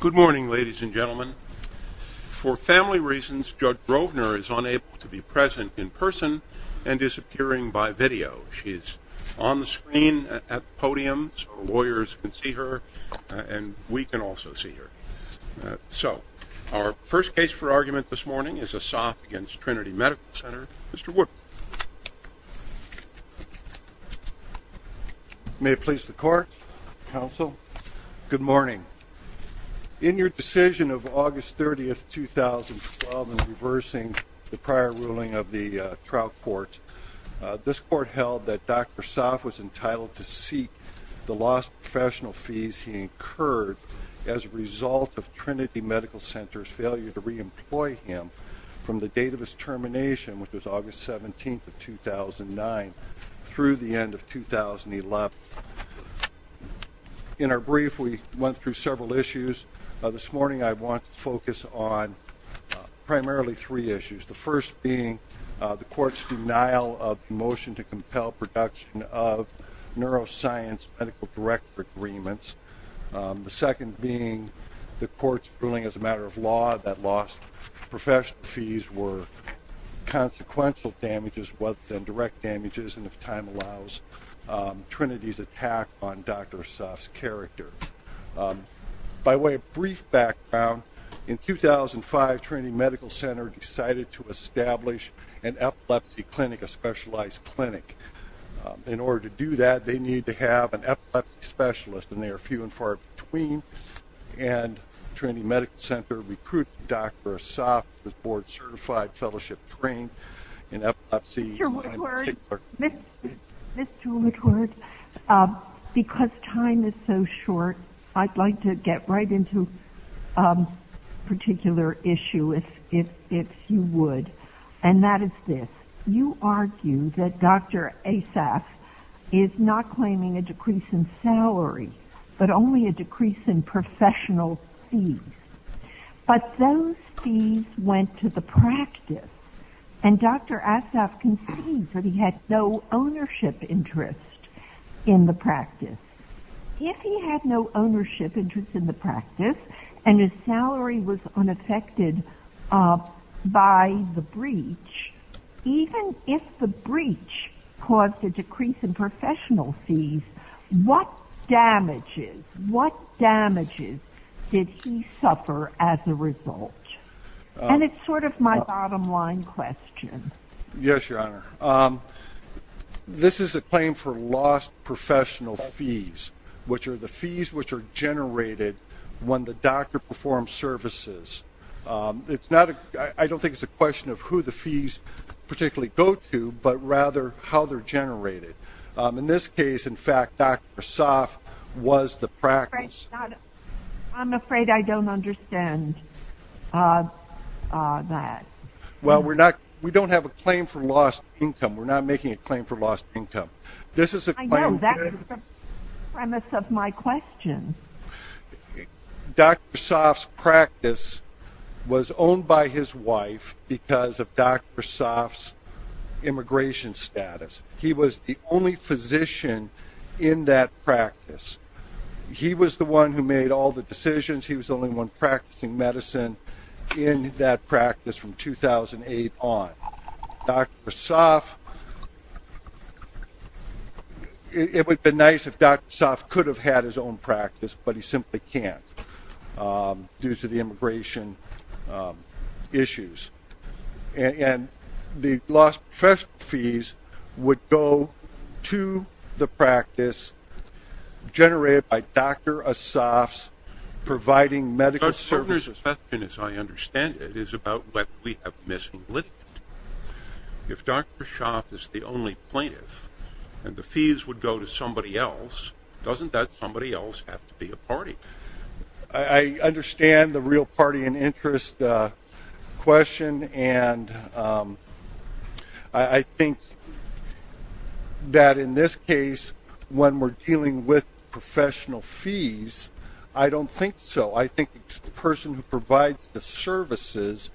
Good morning, ladies and gentlemen. For family reasons, Judge Grovner is unable to be present in person and is appearing by video. She is on the screen at the podium so lawyers can see her, and we can also see her. So our first case for argument this morning is Assaf v. Trinity Medical Center. Mr. Wood. May it please the Court, Counsel. Good morning. In your decision of August 30, 2012, in reversing the prior ruling of the trial court, this court held that Dr. Assaf was entitled to seek the lost professional fees he incurred as a result of Trinity Medical Center's failure to reemploy him from the date of his termination, which was August 17, 2009, through the end of 2011. In our brief, we went through several issues. This morning I want to focus on primarily three issues, the first being the court's denial of the motion to compel production of neuroscience medical director agreements, the second being the court's ruling as a matter of law that lost professional fees were consequential damages rather than direct damages and, if time allows, Trinity's attack on Dr. Assaf's character. By way of brief background, in 2005, Trinity Medical Center decided to establish an epilepsy clinic, a specialized clinic. In order to do that, they need to have an epilepsy specialist, and they are few and far between, and Trinity Medical Center recruited Dr. Assaf with board-certified fellowship trained in epilepsy. Mr. Woodward, because time is so short, I'd like to get right into a particular issue, if you would, and that is this. You argue that Dr. Assaf is not claiming a decrease in salary, but only a decrease in professional fees. But those fees went to the practice, and Dr. Assaf concedes that he had no ownership interest in the practice. If he had no ownership interest in the practice and his salary was unaffected by the breach, even if the breach caused a decrease in professional fees, what damages, what damages did he suffer as a result? And it's sort of my bottom-line question. Yes, Your Honor. This is a claim for lost professional fees, which are the fees which are generated when the doctor performs services. I don't think it's a question of who the fees particularly go to, but rather how they're generated. In this case, in fact, Dr. Assaf was the practice. I'm afraid I don't understand that. Well, we don't have a claim for lost income. We're not making a claim for lost income. I know. That's the premise of my question. Dr. Assaf's practice was owned by his wife because of Dr. Assaf's immigration status. He was the only physician in that practice. He was the one who made all the decisions. He was the only one practicing medicine in that practice from 2008 on. Dr. Assaf, it would have been nice if Dr. Assaf could have had his own practice, but he simply can't due to the immigration issues. And the lost professional fees would go to the practice generated by Dr. Assaf's providing medical services. Your Honor's question, as I understand it, is about what we have missing litigant. If Dr. Assaf is the only plaintiff and the fees would go to somebody else, doesn't that somebody else have to be a party? I understand the real party and interest question, and I think that in this case when we're dealing with professional fees, I don't think so. I think it's the person who provides the services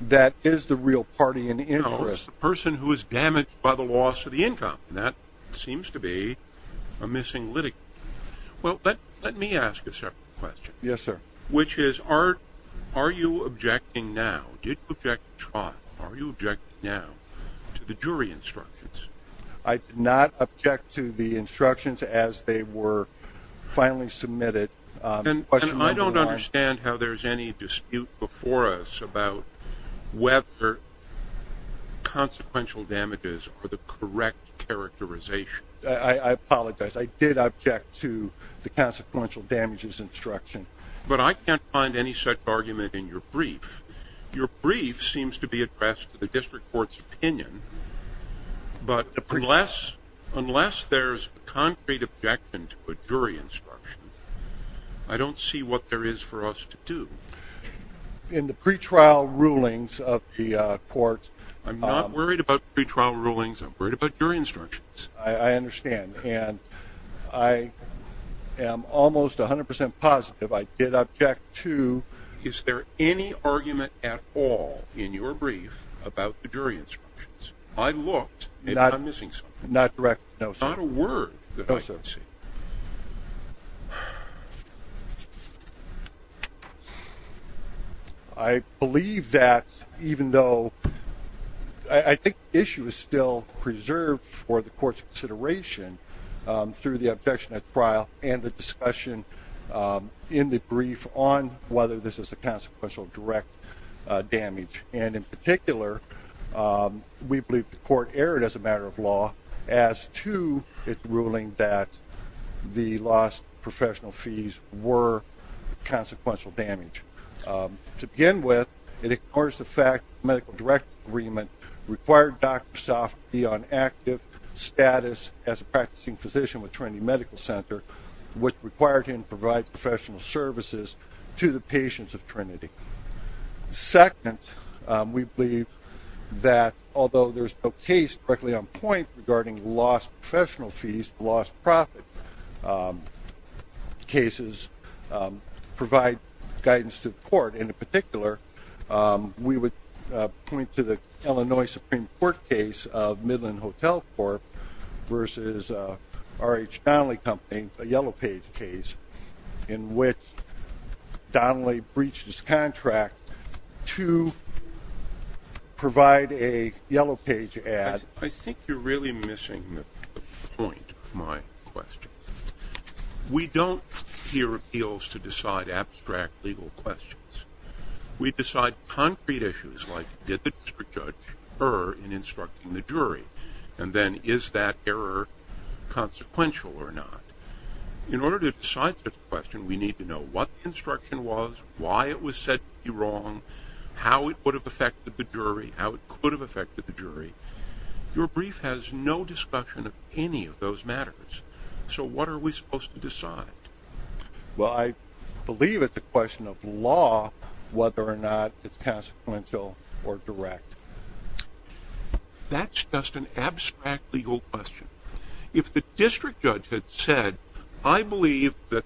that is the real party and interest. No, it's the person who is damaged by the loss of the income, and that seems to be a missing litigant. Well, let me ask a separate question. Yes, sir. Which is are you objecting now? Did you object to trial? Are you objecting now to the jury instructions? I did not object to the instructions as they were finally submitted. And I don't understand how there's any dispute before us about whether consequential damages are the correct characterization. I apologize. I did object to the consequential damages instruction. But I can't find any such argument in your brief. Your brief seems to be addressed to the district court's opinion, but unless there's a concrete objection to a jury instruction, I don't see what there is for us to do. In the pretrial rulings of the court… I'm not worried about pretrial rulings. I'm worried about jury instructions. I understand. And I am almost 100 percent positive I did object to… Is there any argument at all in your brief about the jury instructions? I looked, and I'm missing something. Not directly. No, sir. Not a word. No, sir. Let's see. I believe that even though I think the issue is still preserved for the court's consideration through the objection at trial and the discussion in the brief on whether this is a consequential direct damage. And in particular, we believe the court erred as a matter of law as to its ruling that the lost professional fees were consequential damage. To begin with, it ignores the fact that the medical direct agreement required Dr. Sofka to be on active status as a practicing physician with Trinity Medical Center, which required him to provide professional services to the patients of Trinity. Second, we believe that although there's no case directly on point regarding lost professional fees, lost profit cases provide guidance to the court. In particular, we would point to the Illinois Supreme Court case of Midland Hotel Corp. versus R.H. Donnelly Company, a yellow page case, in which Donnelly breached his contract to provide a yellow page ad. I think you're really missing the point of my question. We don't hear appeals to decide abstract legal questions. We decide concrete issues like did the district judge err in instructing the jury, and then is that error consequential or not. In order to decide such a question, we need to know what the instruction was, why it was said to be wrong, how it would have affected the jury, how it could have affected the jury. Your brief has no discussion of any of those matters. So what are we supposed to decide? Well, I believe it's a question of law, whether or not it's consequential or direct. That's just an abstract legal question. If the district judge had said, I believe that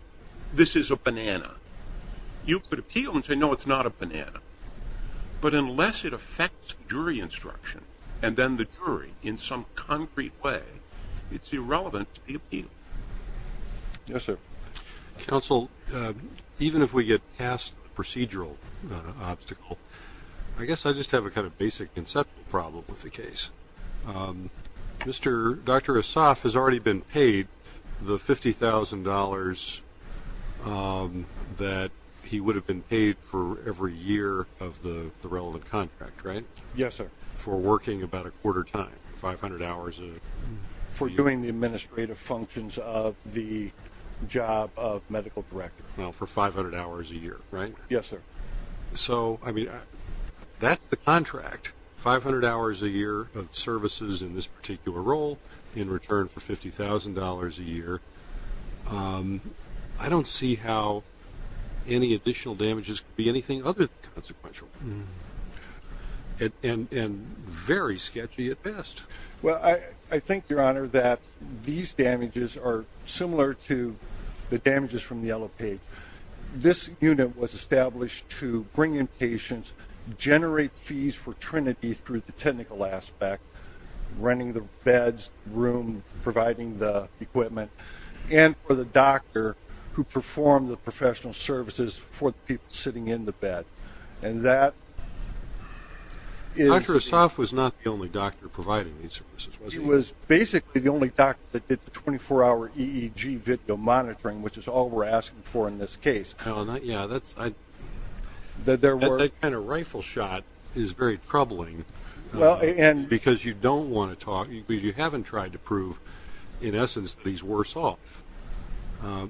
this is a banana, you could appeal and say, no, it's not a banana. But unless it affects jury instruction and then the jury in some concrete way, it's irrelevant to the appeal. Yes, sir. Counsel, even if we get past the procedural obstacle, I guess I just have a kind of basic conceptual problem with the case. Dr. Asaf has already been paid the $50,000 that he would have been paid for every year of the relevant contract, right? Yes, sir. For working about a quarter time, 500 hours a year. For doing the administrative functions of the job of medical director. For 500 hours a year, right? Yes, sir. So, I mean, that's the contract. 500 hours a year of services in this particular role in return for $50,000 a year. I don't see how any additional damages could be anything other than consequential. And very sketchy at best. Well, I think, Your Honor, that these damages are similar to the damages from the yellow page. This unit was established to bring in patients, generate fees for Trinity through the technical aspect, renting the beds, room, providing the equipment, and for the doctor who performed the professional services for the people sitting in the bed. And that is the only doctor. Dr. Asaf was not the only doctor providing these services, was he? He was basically the only doctor that did the 24-hour EEG video monitoring, which is all we're asking for in this case. Yeah, that kind of rifle shot is very troubling because you don't want to talk, because you haven't tried to prove, in essence, that he's worse off.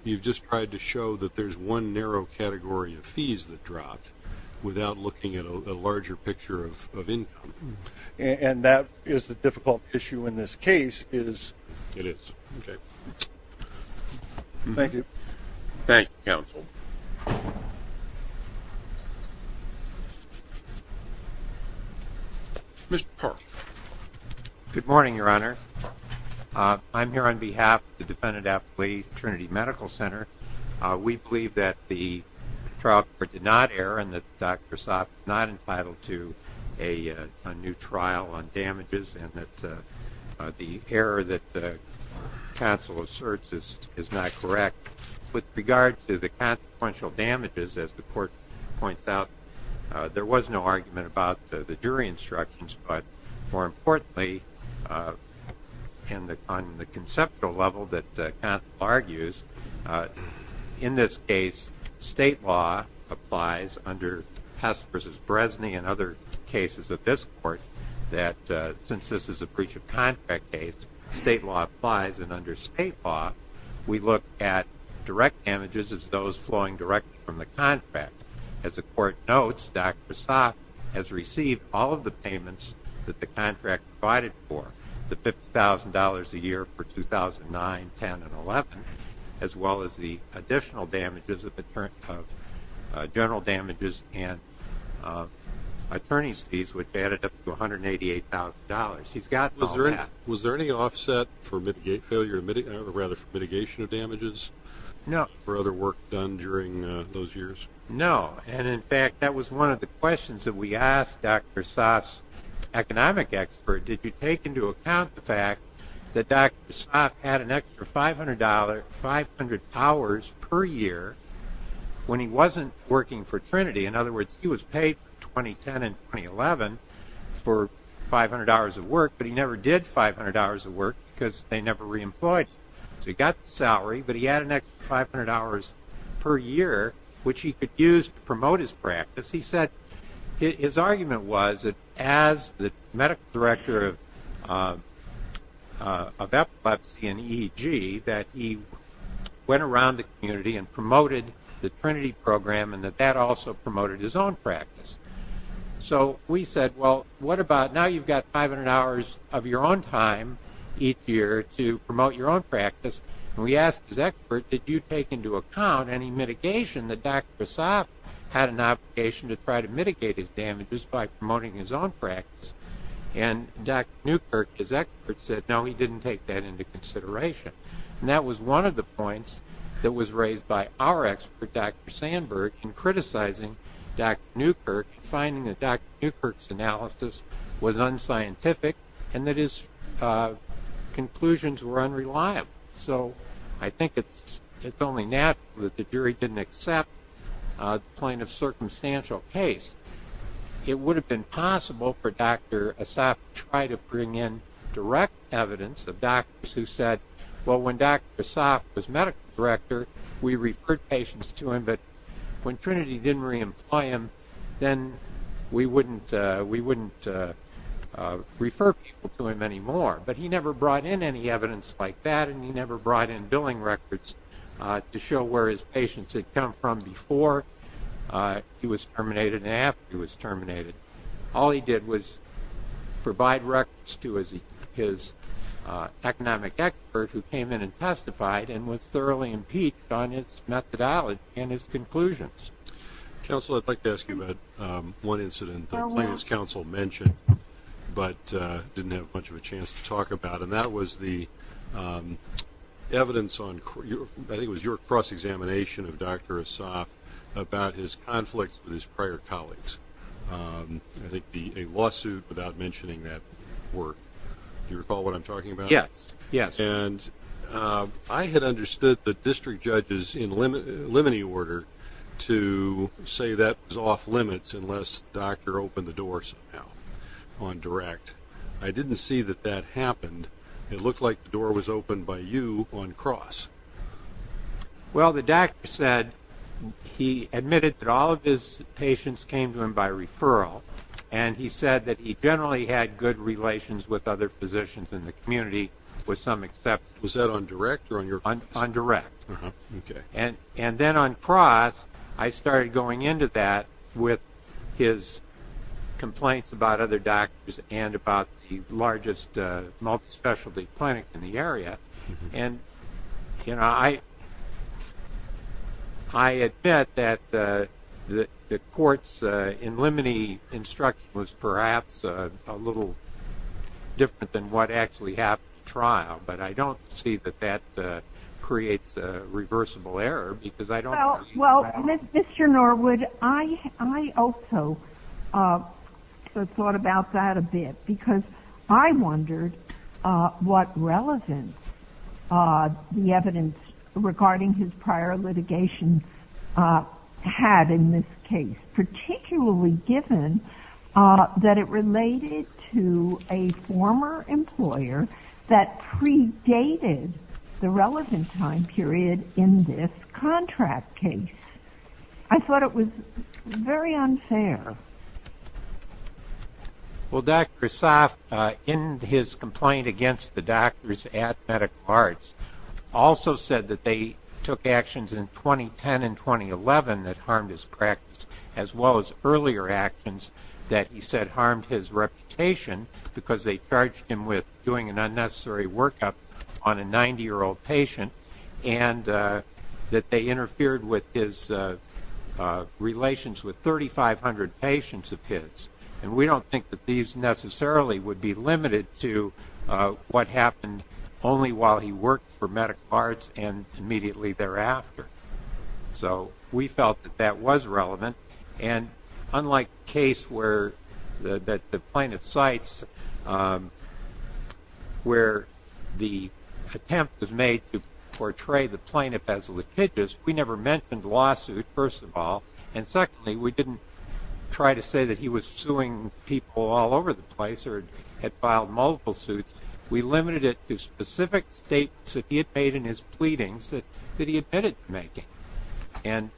You've just tried to show that there's one narrow category of fees that dropped without looking at a larger picture of income. And that is the difficult issue in this case. It is. Okay. Thank you. Thank you, counsel. Mr. Parr. Good morning, Your Honor. I'm here on behalf of the defendant-applicant Trinity Medical Center. We believe that the trial court did not err and that Dr. Asaf is not entitled to a new trial on damages and that the error that the counsel asserts is not correct. With regard to the consequential damages, as the court points out, there was no argument about the jury instructions. But, more importantly, on the conceptual level that counsel argues, in this case, state law applies under Hess v. Bresney and other cases of this court, that since this is a breach of contract case, state law applies. And under state law, we look at direct damages as those flowing directly from the contract. As the court notes, Dr. Asaf has received all of the payments that the contract provided for, the $50,000 a year for 2009, 2010, and 2011, as well as the additional damages of general damages and attorney's fees, which added up to $188,000. He's gotten all that. Was there any offset for mitigation of damages for other work done during those years? No. And, in fact, that was one of the questions that we asked Dr. Asaf's economic expert. Did you take into account the fact that Dr. Asaf had an extra $500, 500 hours per year when he wasn't working for Trinity? In other words, he was paid for 2010 and 2011 for 500 hours of work, but he never did 500 hours of work because they never reemployed him. So he got the salary, but he had an extra 500 hours per year, which he could use to promote his practice. His argument was that as the medical director of epilepsy and EEG, that he went around the community and promoted the Trinity program and that that also promoted his own practice. So we said, well, what about now you've got 500 hours of your own time each year to promote your own practice, and we asked his expert, did you take into account any mitigation that Dr. Asaf had an obligation to try to mitigate his damages by promoting his own practice? And Dr. Newkirk, his expert, said, no, he didn't take that into consideration. And that was one of the points that was raised by our expert, Dr. Sandberg, in criticizing Dr. Newkirk and finding that Dr. Newkirk's analysis was unscientific and that his conclusions were unreliable. So I think it's only natural that the jury didn't accept the point of circumstantial case. It would have been possible for Dr. Asaf to try to bring in direct evidence of doctors who said, well, when Dr. Asaf was medical director, we referred patients to him, but when Trinity didn't re-employ him, then we wouldn't refer people to him anymore. But he never brought in any evidence like that, and he never brought in billing records to show where his patients had come from before he was terminated and after he was terminated. All he did was provide records to his economic expert who came in and testified and was thoroughly impeached on his methodology and his conclusions. Counsel, I'd like to ask you about one incident the plaintiff's counsel mentioned but didn't have much of a chance to talk about, and that was the evidence on, I think it was your cross-examination of Dr. Asaf, about his conflicts with his prior colleagues. I think a lawsuit without mentioning that work. Do you recall what I'm talking about? Yes, yes. And I had understood the district judges in limine order to say that was off limits unless Dr. opened the door somehow on direct. I didn't see that that happened. It looked like the door was opened by you on cross. Well, the doctor said he admitted that all of his patients came to him by referral, and he said that he generally had good relations with other physicians in the community with some exception. Was that on direct or on your cross? On direct. Okay. And then on cross, I started going into that with his complaints about other doctors and about the largest multi-specialty clinic in the area. And, you know, I admit that the court's in limine instruction was perhaps a little different than what actually happened in trial, but I don't see that that creates a reversible error because I don't see that. Well, Mr. Norwood, I also thought about that a bit because I wondered what relevance the evidence regarding his prior litigation had in this case, particularly given that it related to a former employer that predated the relevant time period in this contract case. I thought it was very unfair. Well, Dr. Asaf, in his complaint against the doctors at Medical Arts, also said that they took actions in 2010 and 2011 that harmed his practice, as well as earlier actions that he said harmed his reputation because they charged him with doing an unnecessary workup on a 90-year-old patient and that they interfered with his relations with 3,500 patients of his. And we don't think that these necessarily would be limited to what happened only while he worked for Medical Arts and immediately thereafter. So we felt that that was relevant. And unlike the case where the plaintiff cites where the attempt was made to portray the plaintiff as litigious, we never mentioned the lawsuit, first of all. And secondly, we didn't try to say that he was suing people all over the place or had filed multiple suits. We limited it to specific statements that he had made in his pleadings that he admitted to making. And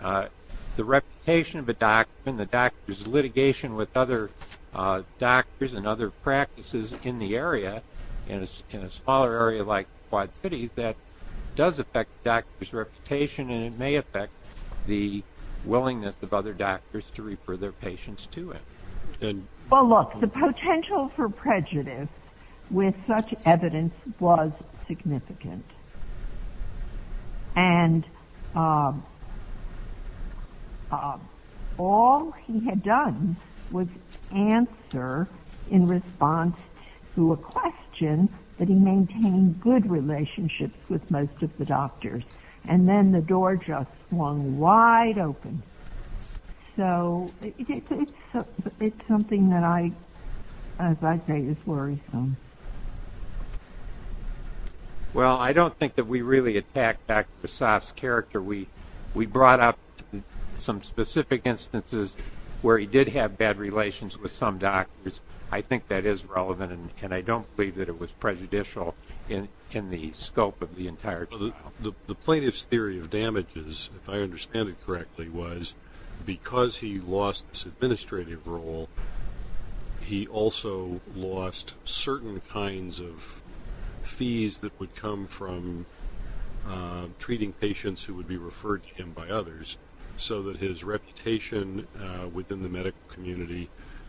the reputation of a doctor and the doctor's litigation with other doctors and other practices in the area, in a smaller area like Quad Cities, that does affect the doctor's reputation and it may affect the willingness of other doctors to refer their patients to him. Well, look, the potential for prejudice with such evidence was significant. And all he had done was answer in response to a question that he maintained good relationships with most of the doctors. And then the door just swung wide open. So it's something that I, as I say, is worrisome. Well, I don't think that we really attacked Dr. Vesoff's character. We brought up some specific instances where he did have bad relations with some doctors. I think that is relevant, and I don't believe that it was prejudicial in the scope of the entire trial. The plaintiff's theory of damages, if I understand it correctly, because he lost his administrative role, he also lost certain kinds of fees that would come from treating patients who would be referred to him by others so that his reputation within the medical community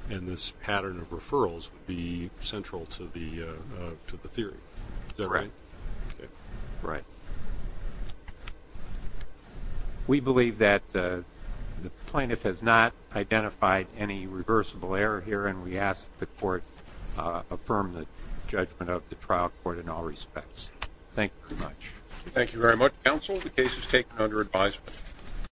and this pattern of referrals would be central to the theory. Is that right? Right. We believe that the plaintiff has not identified any reversible error here, and we ask that the court affirm the judgment of the trial court in all respects. Thank you very much. Thank you very much, counsel. The case is taken under advisement.